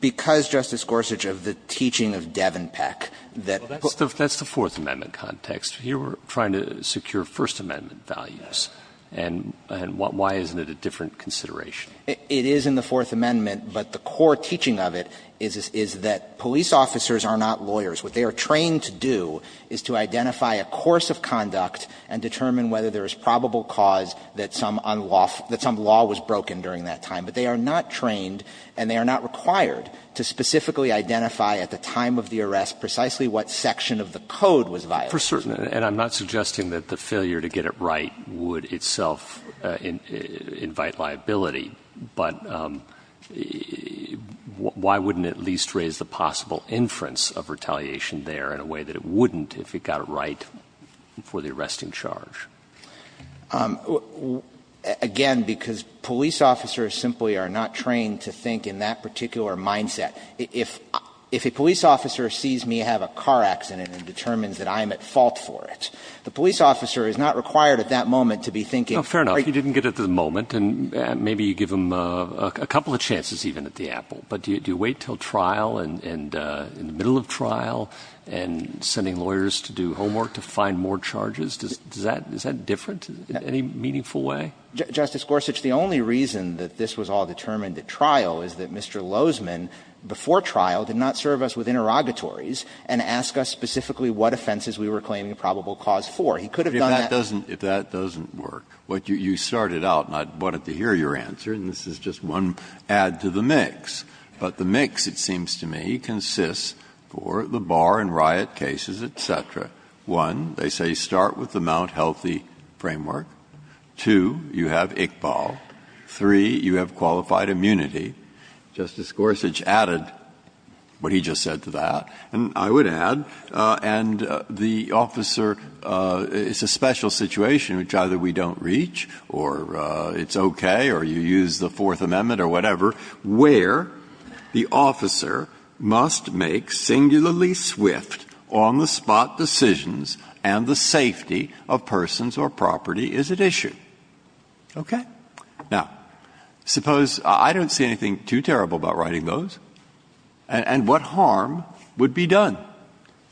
Because, Justice Gorsuch, of the teaching of Devenpeck, that the Fourth Amendment context, you were trying to secure First Amendment values, and why isn't it a different consideration? It is in the Fourth Amendment, but the core teaching of it is that police officers are not lawyers. What they are trained to do is to identify a course of conduct and determine whether there is probable cause that some unlawful – that some law was broken during that time. But they are not trained and they are not required to specifically identify at the time of the arrest precisely what section of the code was violated. And I'm not suggesting that the failure to get it right would itself invite liability, but why wouldn't it at least raise the possible inference of retaliation there in a way that it wouldn't if it got it right before the arresting charge? Again, because police officers simply are not trained to think in that particular mindset. If a police officer sees me have a car accident and determines that I am at fault for it, the police officer is not required at that moment to be thinking of – Well, fair enough, you didn't get it at the moment, and maybe you give them a couple of chances even at the apple. But do you wait until trial and in the middle of trial and sending lawyers to do homework to find more charges? Does that – is that different in any meaningful way? Justice Gorsuch, the only reason that this was all determined at trial is that Mr. Lozman, before trial, did not serve us with interrogatories and ask us specifically what offenses we were claiming probable cause for. He could have done that – Well, if that doesn't – if that doesn't work, what you started out, and I wanted to hear your answer, and this is just one add to the mix, but the mix, it seems to me, consists for the Barr and Riott cases, et cetera. One, they say start with the Mount Healthy framework. Two, you have Iqbal. Three, you have qualified immunity. Justice Gorsuch added what he just said to that. And I would add, and the officer – it's a special situation which either we don't reach or it's okay or you use the Fourth Amendment or whatever, where the officer must make singularly swift, on-the-spot decisions and the safety of persons or property is at issue. Okay? Now, suppose – I don't see anything too terrible about writing those. And what harm would be done?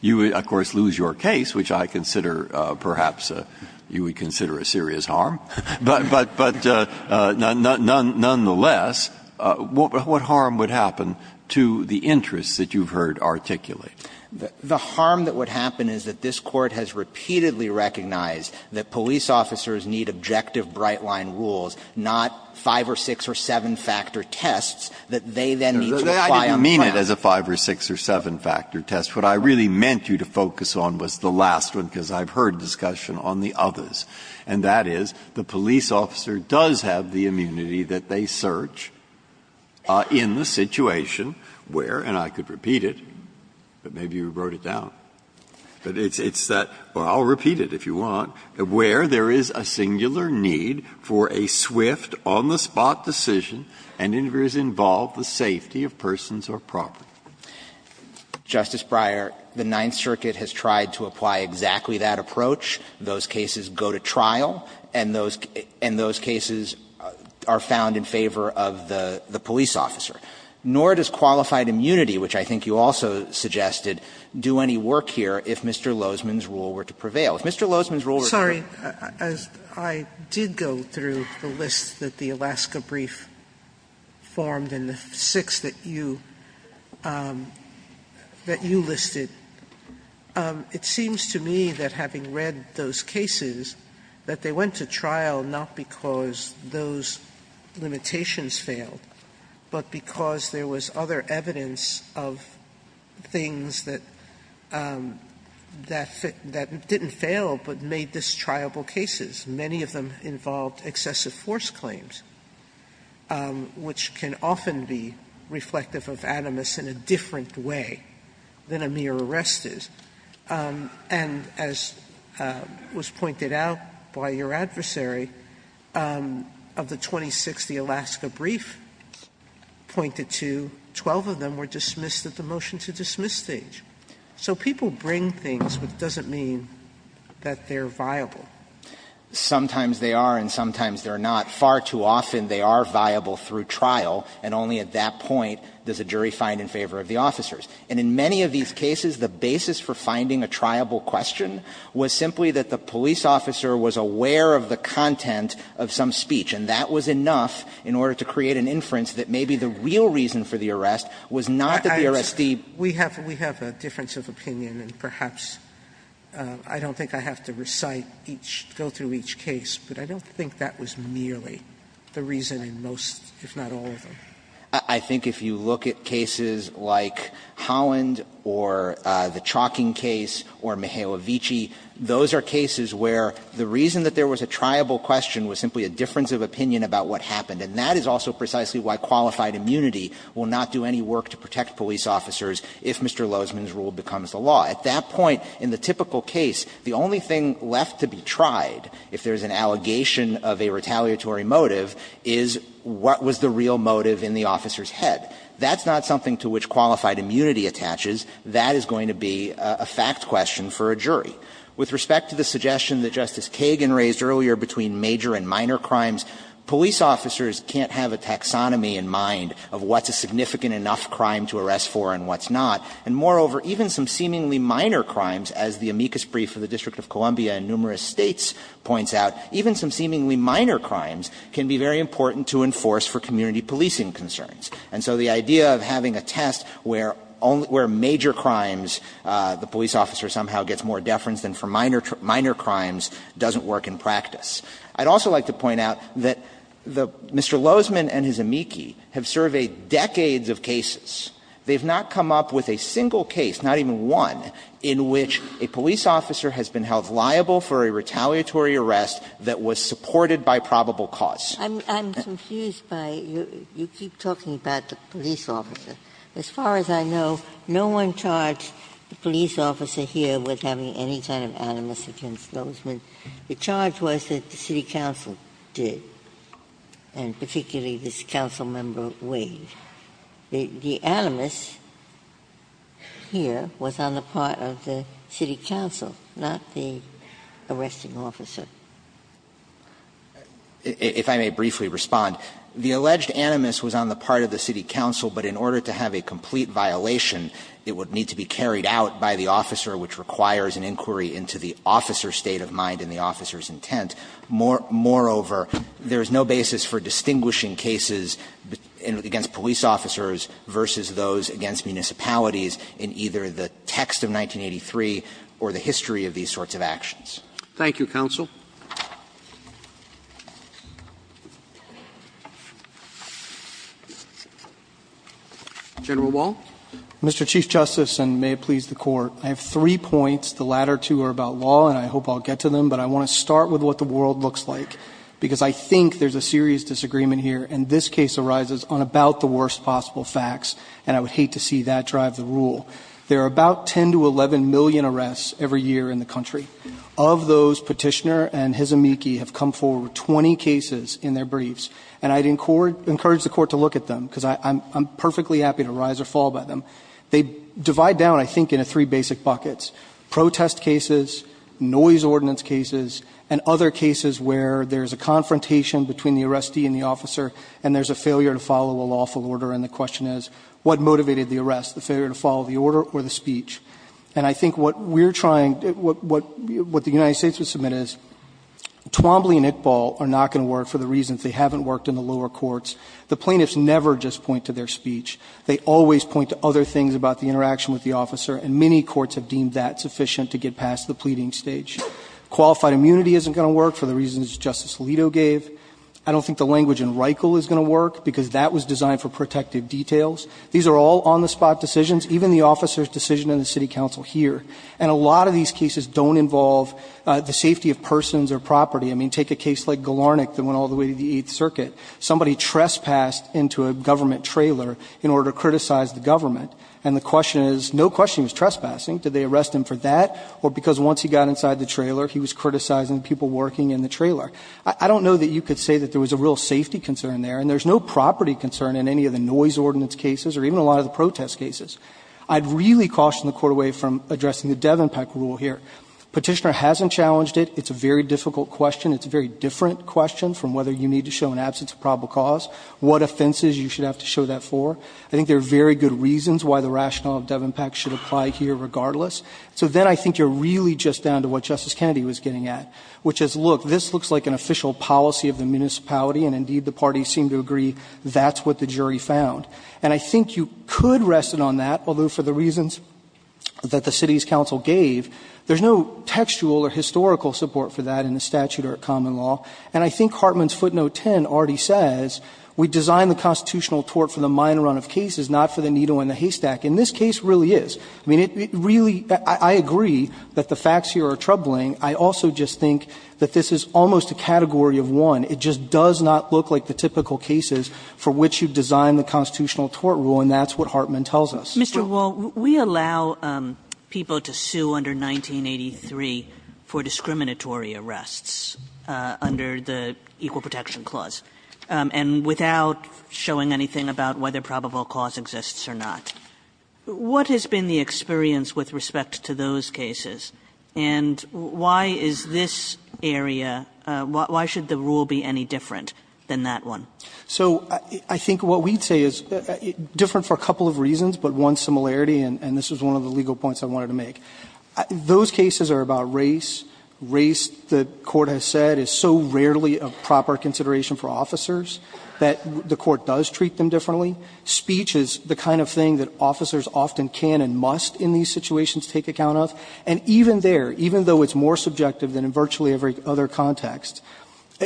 You would, of course, lose your case, which I consider perhaps you would consider a serious harm. But nonetheless, what harm would happen to the interests that you've heard articulated? The harm that would happen is that this Court has repeatedly recognized that police officers need objective bright-line rules, not five or six or seven-factor tests that they then need to – Breyer. I didn't mean it as a five or six or seven-factor test. What I really meant you to focus on was the last one, because I've heard discussion on the others, and that is the police officer does have the immunity that they search in the situation where – and I could repeat it, but maybe you wrote it down. But it's that – well, I'll repeat it if you want. Where there is a singular need for a swift, on-the-spot decision and it involves the safety of persons or property. Justice Breyer, the Ninth Circuit has tried to apply exactly that approach. Those cases go to trial, and those cases are found in favor of the police officer. Nor does qualified immunity, which I think you also suggested, do any work here if Mr. Lozman's rule were to prevail. As I did go through the list that the Alaska brief formed and the six that you listed, it seems to me that having read those cases, that they went to trial not because those limitations failed, but because there was other evidence of things that didn't fail but made this triable cases. Many of them involved excessive force claims, which can often be reflective of animus in a different way than a mere arrest is. And as was pointed out by your adversary, of the 26 the Alaska brief pointed to, 12 of them were dismissed at the motion-to-dismiss stage. So people bring things, but it doesn't mean that they're viable. Sometimes they are and sometimes they're not. Far too often they are viable through trial, and only at that point does a jury find in favor of the officers. And in many of these cases, the basis for finding a triable question was simply that the police officer was aware of the content of some speech, and that was enough in order to create an inference that maybe the real reason for the arrest was not that the arrestee. Sotomayor, we have a difference of opinion, and perhaps I don't think I have to recite each, go through each case, but I don't think that was merely the reason in most, if not all of them. I think if you look at cases like Holland or the Chalking case or Mihailovici, those are cases where the reason that there was a triable question was simply a difference of opinion about what happened, and that is also precisely why qualified immunity will not do any work to protect police officers if Mr. Lozman's rule becomes the law. At that point, in the typical case, the only thing left to be tried if there is an allegation of a retaliatory motive is what was the real motive in the officer's head. That's not something to which qualified immunity attaches. That is going to be a fact question for a jury. With respect to the suggestion that Justice Kagan raised earlier between major and what's a significant enough crime to arrest for and what's not, and moreover, even some seemingly minor crimes, as the amicus brief of the District of Columbia and numerous States points out, even some seemingly minor crimes can be very important to enforce for community policing concerns. And so the idea of having a test where only major crimes, the police officer somehow gets more deference than for minor crimes, doesn't work in practice. I'd also like to point out that Mr. Lozman and his amici have surveyed decades of cases. They have not come up with a single case, not even one, in which a police officer has been held liable for a retaliatory arrest that was supported by probable cause. Ginsburg. I'm confused by your keep talking about the police officer. As far as I know, no one charged the police officer here with having any kind of animus against Lozman. The charge was that the city council did, and particularly this council member Wade. The animus here was on the part of the city council, not the arresting officer. If I may briefly respond, the alleged animus was on the part of the city council, but in order to have a complete violation, it would need to be carried out by the officer which requires an inquiry into the officer's state of mind and the officer's intent. Moreover, there is no basis for distinguishing cases against police officers versus those against municipalities in either the text of 1983 or the history of these sorts of actions. Thank you, counsel. General Wall. Mr. Chief Justice, and may it please the court, I have three points. The latter two are about law, and I hope I'll get to them, but I want to start with what the world looks like because I think there's a serious disagreement here, and this case arises on about the worst possible facts, and I would hate to see that drive the rule. There are about 10 to 11 million arrests every year in the country. Of those, Petitioner and Hisamiki have come forward with 20 cases in their briefs, and I'd encourage the court to look at them because I'm perfectly happy to rise or fall by them. They divide down, I think, into three basic buckets, protest cases, noise ordinance cases, and other cases where there's a confrontation between the arrestee and the officer, and there's a failure to follow a lawful order, and the question is what motivated the arrest, the failure to follow the order or the speech? And I think what we're trying, what the United States would submit is Twombly and Iqbal are not going to work for the reasons they haven't worked in the lower courts. The plaintiffs never just point to their speech. They always point to other things about the interaction with the officer, and many courts have deemed that sufficient to get past the pleading stage. Qualified immunity isn't going to work for the reasons Justice Alito gave. I don't think the language in Reichel is going to work because that was designed for protective details. These are all on-the-spot decisions, even the officer's decision in the city council here, and a lot of these cases don't involve the safety of persons or property. I mean, take a case like Galarnik that went all the way to the Eighth Circuit. Somebody trespassed into a government trailer in order to criticize the government, and the question is, no question he was trespassing. Did they arrest him for that, or because once he got inside the trailer, he was criticizing people working in the trailer? I don't know that you could say that there was a real safety concern there, and there's no property concern in any of the noise ordinance cases or even a lot of the protest cases. I'd really caution the Court away from addressing the Devon Peck rule here. Petitioner hasn't challenged it. It's a very difficult question. It's a very different question from whether you need to show an absence of probable cause, what offenses you should have to show that for. I think there are very good reasons why the rationale of Devon Peck should apply here regardless. So then I think you're really just down to what Justice Kennedy was getting at, which is, look, this looks like an official policy of the municipality, and indeed the parties seem to agree that's what the jury found. And I think you could rest it on that, although for the reasons that the city's counsel gave, there's no textual or historical support for that in the statute or common law. And I think Hartman's footnote 10 already says, we design the constitutional tort for the minor run of cases, not for the needle in the haystack. And this case really is. I mean, it really – I agree that the facts here are troubling. I also just think that this is almost a category of one. It just does not look like the typical cases for which you design the constitutional tort rule, and that's what Hartman tells us. Kagans So Mr. Wall, we allow people to sue under 1983 for discriminatory arrests under the Equal Protection Clause, and without showing anything about whether probable cause exists or not. What has been the experience with respect to those cases, and why is this area – why should the rule be any different than that one? Wall expand I think what we'd say is, different for a couple of reasons, but one similarity, and this is one of the legal points I wanted to make. Those cases are about race, race the Court has said is so rarely a proper consideration for officers, that the Court does treat them differently. Speech is the kind of thing that officers often can and must in these situations take account of, and even there, even though it's more subjective than in virtually every other context,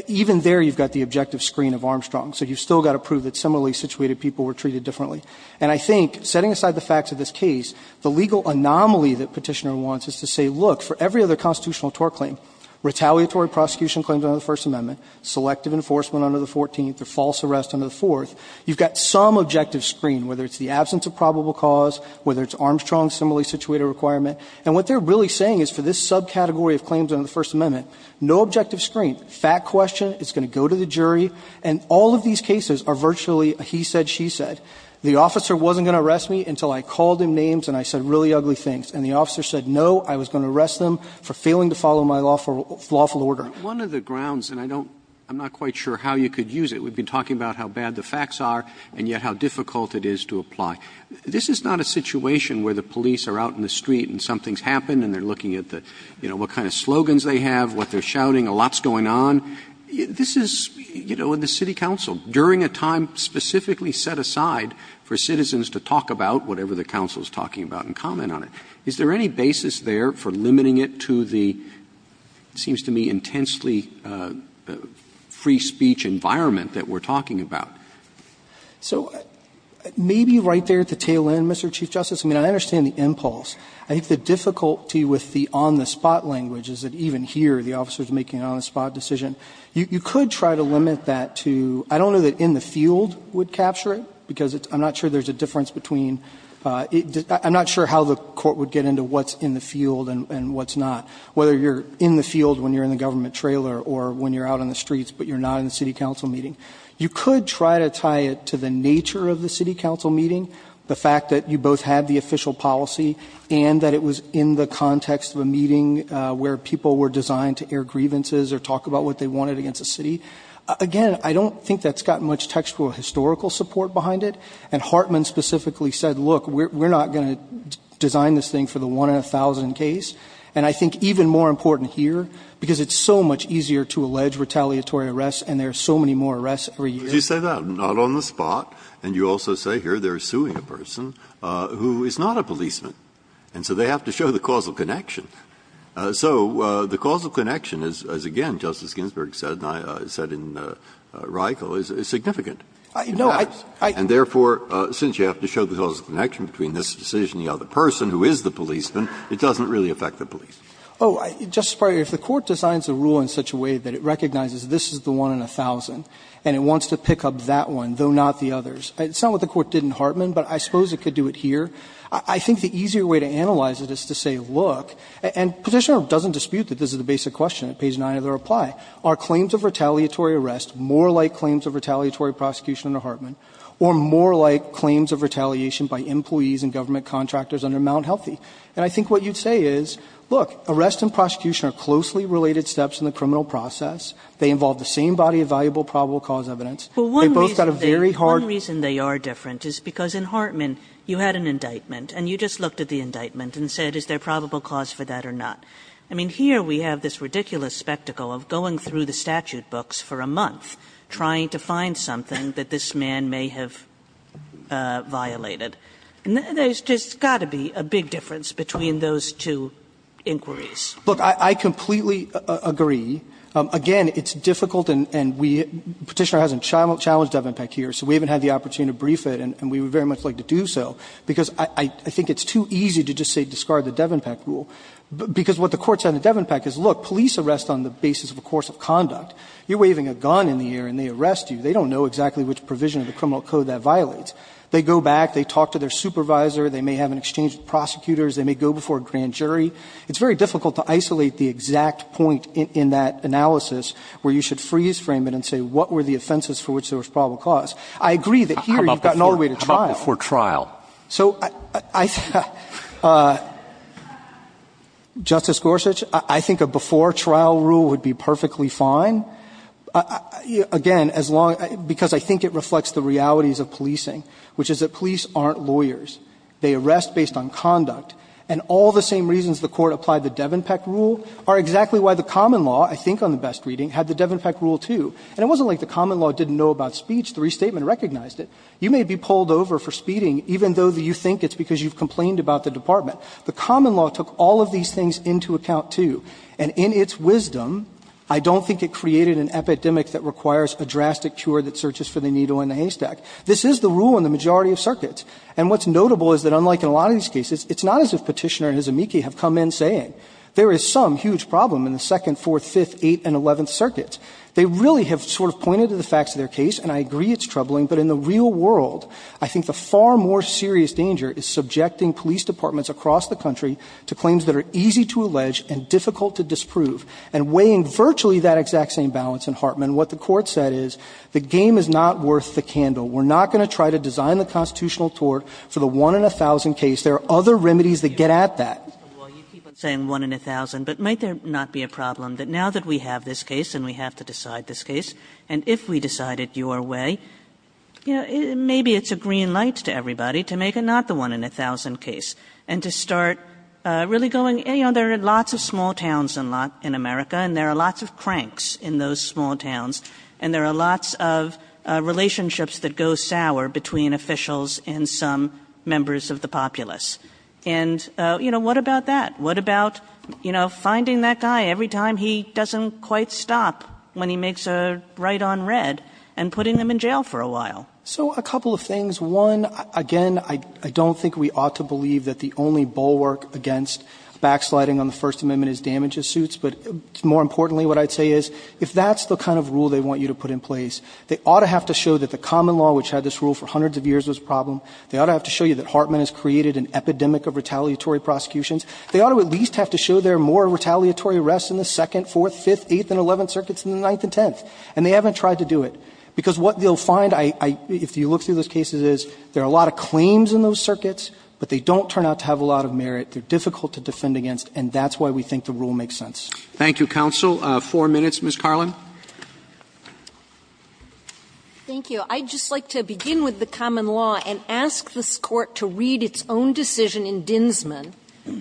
even there you've got the objective screen of Armstrong, so you've still got to prove that similarly situated people were treated differently. And I think, setting aside the facts of this case, the legal anomaly that Petitioner wants is to say, look, for every other constitutional tort claim, retaliatory prosecution claims under the First Amendment, selective enforcement under the Fourteenth, or false arrest under the Fourth, you've got some objective screen, whether it's the absence of probable cause, whether it's Armstrong's similarly situated requirement. And what they're really saying is for this subcategory of claims under the First Amendment, no objective screen. Fact question, it's going to go to the jury, and all of these cases are virtually a he said, she said. The officer wasn't going to arrest me until I called him names and I said really ugly things. And the officer said, no, I was going to arrest them for failing to follow my lawful order. Roberts. One of the grounds, and I don't – I'm not quite sure how you could use it. We've been talking about how bad the facts are and yet how difficult it is to apply. This is not a situation where the police are out in the street and something's happened and they're looking at the – you know, what kind of slogans they have, what they're shouting, a lot's going on. This is, you know, in the city council, during a time specifically set aside for citizens to talk about whatever the council's talking about and comment on it. Is there any basis there for limiting it to the, it seems to me, intensely free speech environment that we're talking about? So maybe right there at the tail end, Mr. Chief Justice, I mean, I understand the impulse. I think the difficulty with the on-the-spot language is that even here the officer is making an on-the-spot decision. You could try to limit that to – I don't know that in the field would capture it, because I'm not sure there's a difference between – I'm not sure how the court would get into what's in the field and what's not, whether you're in the field when you're in the government trailer or when you're out on the streets but you're not in the city council meeting. You could try to tie it to the nature of the city council meeting, the fact that you both had the official policy and that it was in the context of a meeting where people were designed to air grievances or talk about what they wanted against a city. Again, I don't think that's got much textual historical support behind it. And Hartman specifically said, look, we're not going to design this thing for the one-in-a-thousand case. And I think even more important here, because it's so much easier to allege retaliatory arrests and there are so many more arrests every year. Breyer. Did you say that? Not on the spot. And you also say here they're suing a person who is not a policeman. And so they have to show the causal connection. So the causal connection is, again, as Justice Ginsburg said and I said in Reichel, is significant. No, I don't think that's true. And therefore, since you have to show the causal connection between this decision and the other person who is the policeman, it doesn't really affect the policeman. Oh, Justice Breyer, if the Court designs a rule in such a way that it recognizes this is the one-in-a-thousand and it wants to pick up that one, though not the others, it's not what the Court did in Hartman, but I suppose it could do it here. I think the easier way to analyze it is to say, look, and Petitioner doesn't dispute that this is the basic question at page 9 of the reply, are claims of retaliatory arrests more like claims of retaliatory prosecution under Hartman or more like claims of retaliation by employees and government contractors under Mt. Healthy? And I think what you'd say is, look, arrest and prosecution are closely related steps in the criminal process. They involve the same body of valuable probable cause evidence. They both got a very hard one. Kagan, the one reason they are different is because in Hartman you had an indictment and you just looked at the indictment and said, is there probable cause for that or not? I mean, here we have this ridiculous spectacle of going through the statute books for a month, trying to find something that this man may have violated. There's just got to be a big difference between those two inquiries. Look, I completely agree. Again, it's difficult and we, Petitioner hasn't challenged Devenpeck here, so we haven't had the opportunity to brief it and we would very much like to do so, because I think it's too easy to just say discard the Devenpeck rule, because what the court said in Devenpeck is, look, police arrest on the basis of a course of conduct. You're waving a gun in the air and they arrest you. They don't know exactly which provision of the criminal code that violates. They go back, they talk to their supervisor, they may have an exchange with prosecutors, they may go before a grand jury. It's very difficult to isolate the exact point in that analysis where you should freeze frame it and say what were the offenses for which there was probable cause. I agree that here you've got an orderly way to trial. Roberts. How about before trial? So I think Justice Gorsuch, I think a before trial rule would be perfectly fine. Again, as long as – because I think it reflects the realities of policing, which is that police aren't lawyers. They arrest based on conduct. And all the same reasons the Court applied the Devenpeck rule are exactly why the common law, I think on the best reading, had the Devenpeck rule, too. And it wasn't like the common law didn't know about speech. The restatement recognized it. You may be pulled over for speeding even though you think it's because you've complained about the department. The common law took all of these things into account, too. And in its wisdom, I don't think it created an epidemic that requires a drastic cure that searches for the needle in the haystack. This is the rule in the majority of circuits. And what's notable is that unlike in a lot of these cases, it's not as if Petitioner and Izemiki have come in saying there is some huge problem in the second, fourth, fifth, eighth and eleventh circuits. They really have sort of pointed to the facts of their case, and I agree it's troubling, but in the real world, I think the far more serious danger is subjecting police departments across the country to claims that are easy to allege and difficult to disprove. And weighing virtually that exact same balance in Hartman, what the Court said is the game is not worth the candle. We're not going to try to design the constitutional tort for the one in a thousand case. There are other remedies that get at that. Kagan. Well, you keep on saying one in a thousand, but might there not be a problem that now that we have this case and we have to decide this case, and if we decide it your way, you know, maybe it's a green light to everybody to make it not the one in a thousand case, and to start really going, you know, there are lots of small towns in America, and there are lots of cranks in those small towns, and there are lots of relationships that go sour between officials and some members of the populace. And, you know, what about that? What about, you know, finding that guy every time he doesn't quite stop when he makes a right on red and putting them in jail for a while? So a couple of things. One, again, I don't think we ought to believe that the only bulwark against backsliding on the First Amendment is damages suits, but more importantly, what I'd say is if that's the kind of rule they want you to put in place, they ought to have to show that the common law, which had this rule for hundreds of years, was a problem. They ought to have to show you that Hartman has created an epidemic of retaliatory prosecutions. They ought to at least have to show there are more retaliatory arrests in the Second, Fourth, Fifth, Eighth, and Eleventh Circuits than the Ninth and Tenth. And they haven't tried to do it, because what they'll find, if you look through those cases, is there are a lot of claims in those circuits, but they don't turn out to have a lot of merit. They're difficult to defend against, and that's why we think the rule makes sense. Roberts. Thank you, counsel. Four minutes, Ms. Carlin. Thank you. I'd just like to begin with the common law and ask this Court to read its own decision in Dinsman,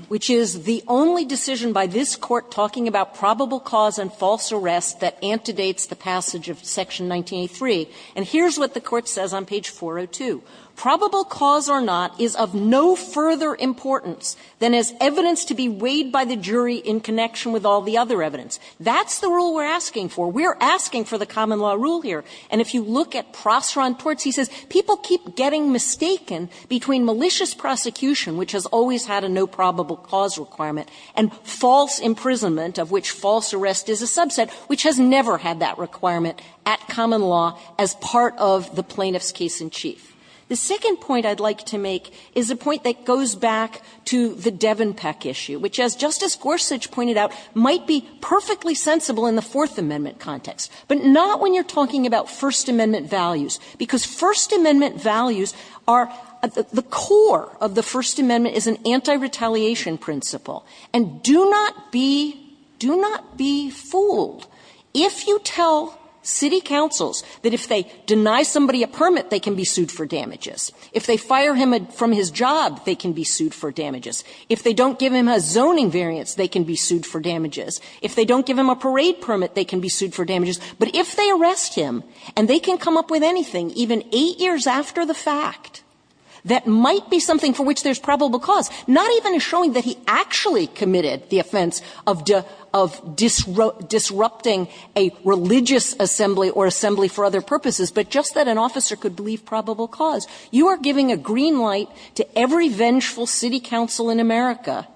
which is the only decision by this Court talking about probable cause and false arrest that antedates the passage of Section 1983. And here's what the Court says on page 402. Probable cause or not is of no further importance than as evidence to be weighed by the jury in connection with all the other evidence. That's the rule we're asking for. We're asking for the common law rule here. And if you look at Prosser on torts, he says people keep getting mistaken between malicious prosecution, which has always had a no probable cause requirement, and false imprisonment, of which false arrest is a subset, which has never had that requirement at common law as part of the plaintiff's case-in-chief. The second point I'd like to make is a point that goes back to the Devon Peck issue, which, as Justice Gorsuch pointed out, might be perfectly sensible in the Fourth Amendment context. But not when you're talking about First Amendment values, because First Amendment values are the core of the First Amendment is an anti-retaliation principle. And do not be do not be fooled if you tell city councils that if they deny somebody a permit, they can be sued for damages. If they fire him from his job, they can be sued for damages. If they don't give him a zoning variance, they can be sued for damages. If they don't give him a parade permit, they can be sued for damages. But if they arrest him and they can come up with anything, even 8 years after the fact, that might be something for which there's probable cause, not even showing that he actually committed the offense of disrupting a religious assembly or assembly for other purposes, but just that an officer could believe probable cause. You are giving a green light to every vengeful city council in America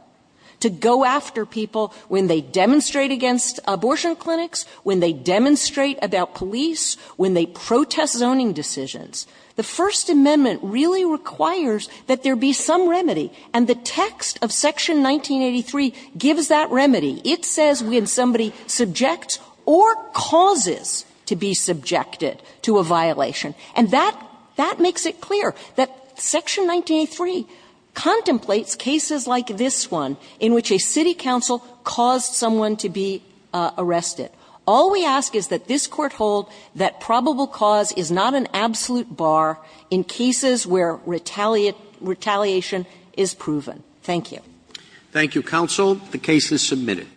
to go after people when they demonstrate against abortion clinics, when they demonstrate about police, when they protest zoning decisions. The First Amendment really requires that there be some remedy, and the text of Section 1983 gives that remedy. It says when somebody subjects or causes to be subjected to a violation. And that makes it clear that Section 1983 contemplates cases like this one in which a city council caused someone to be arrested. All we ask is that this Court hold that probable cause is not an absolute bar in cases where retaliation is proven. Thank you. Roberts. Thank you, counsel. The case is submitted.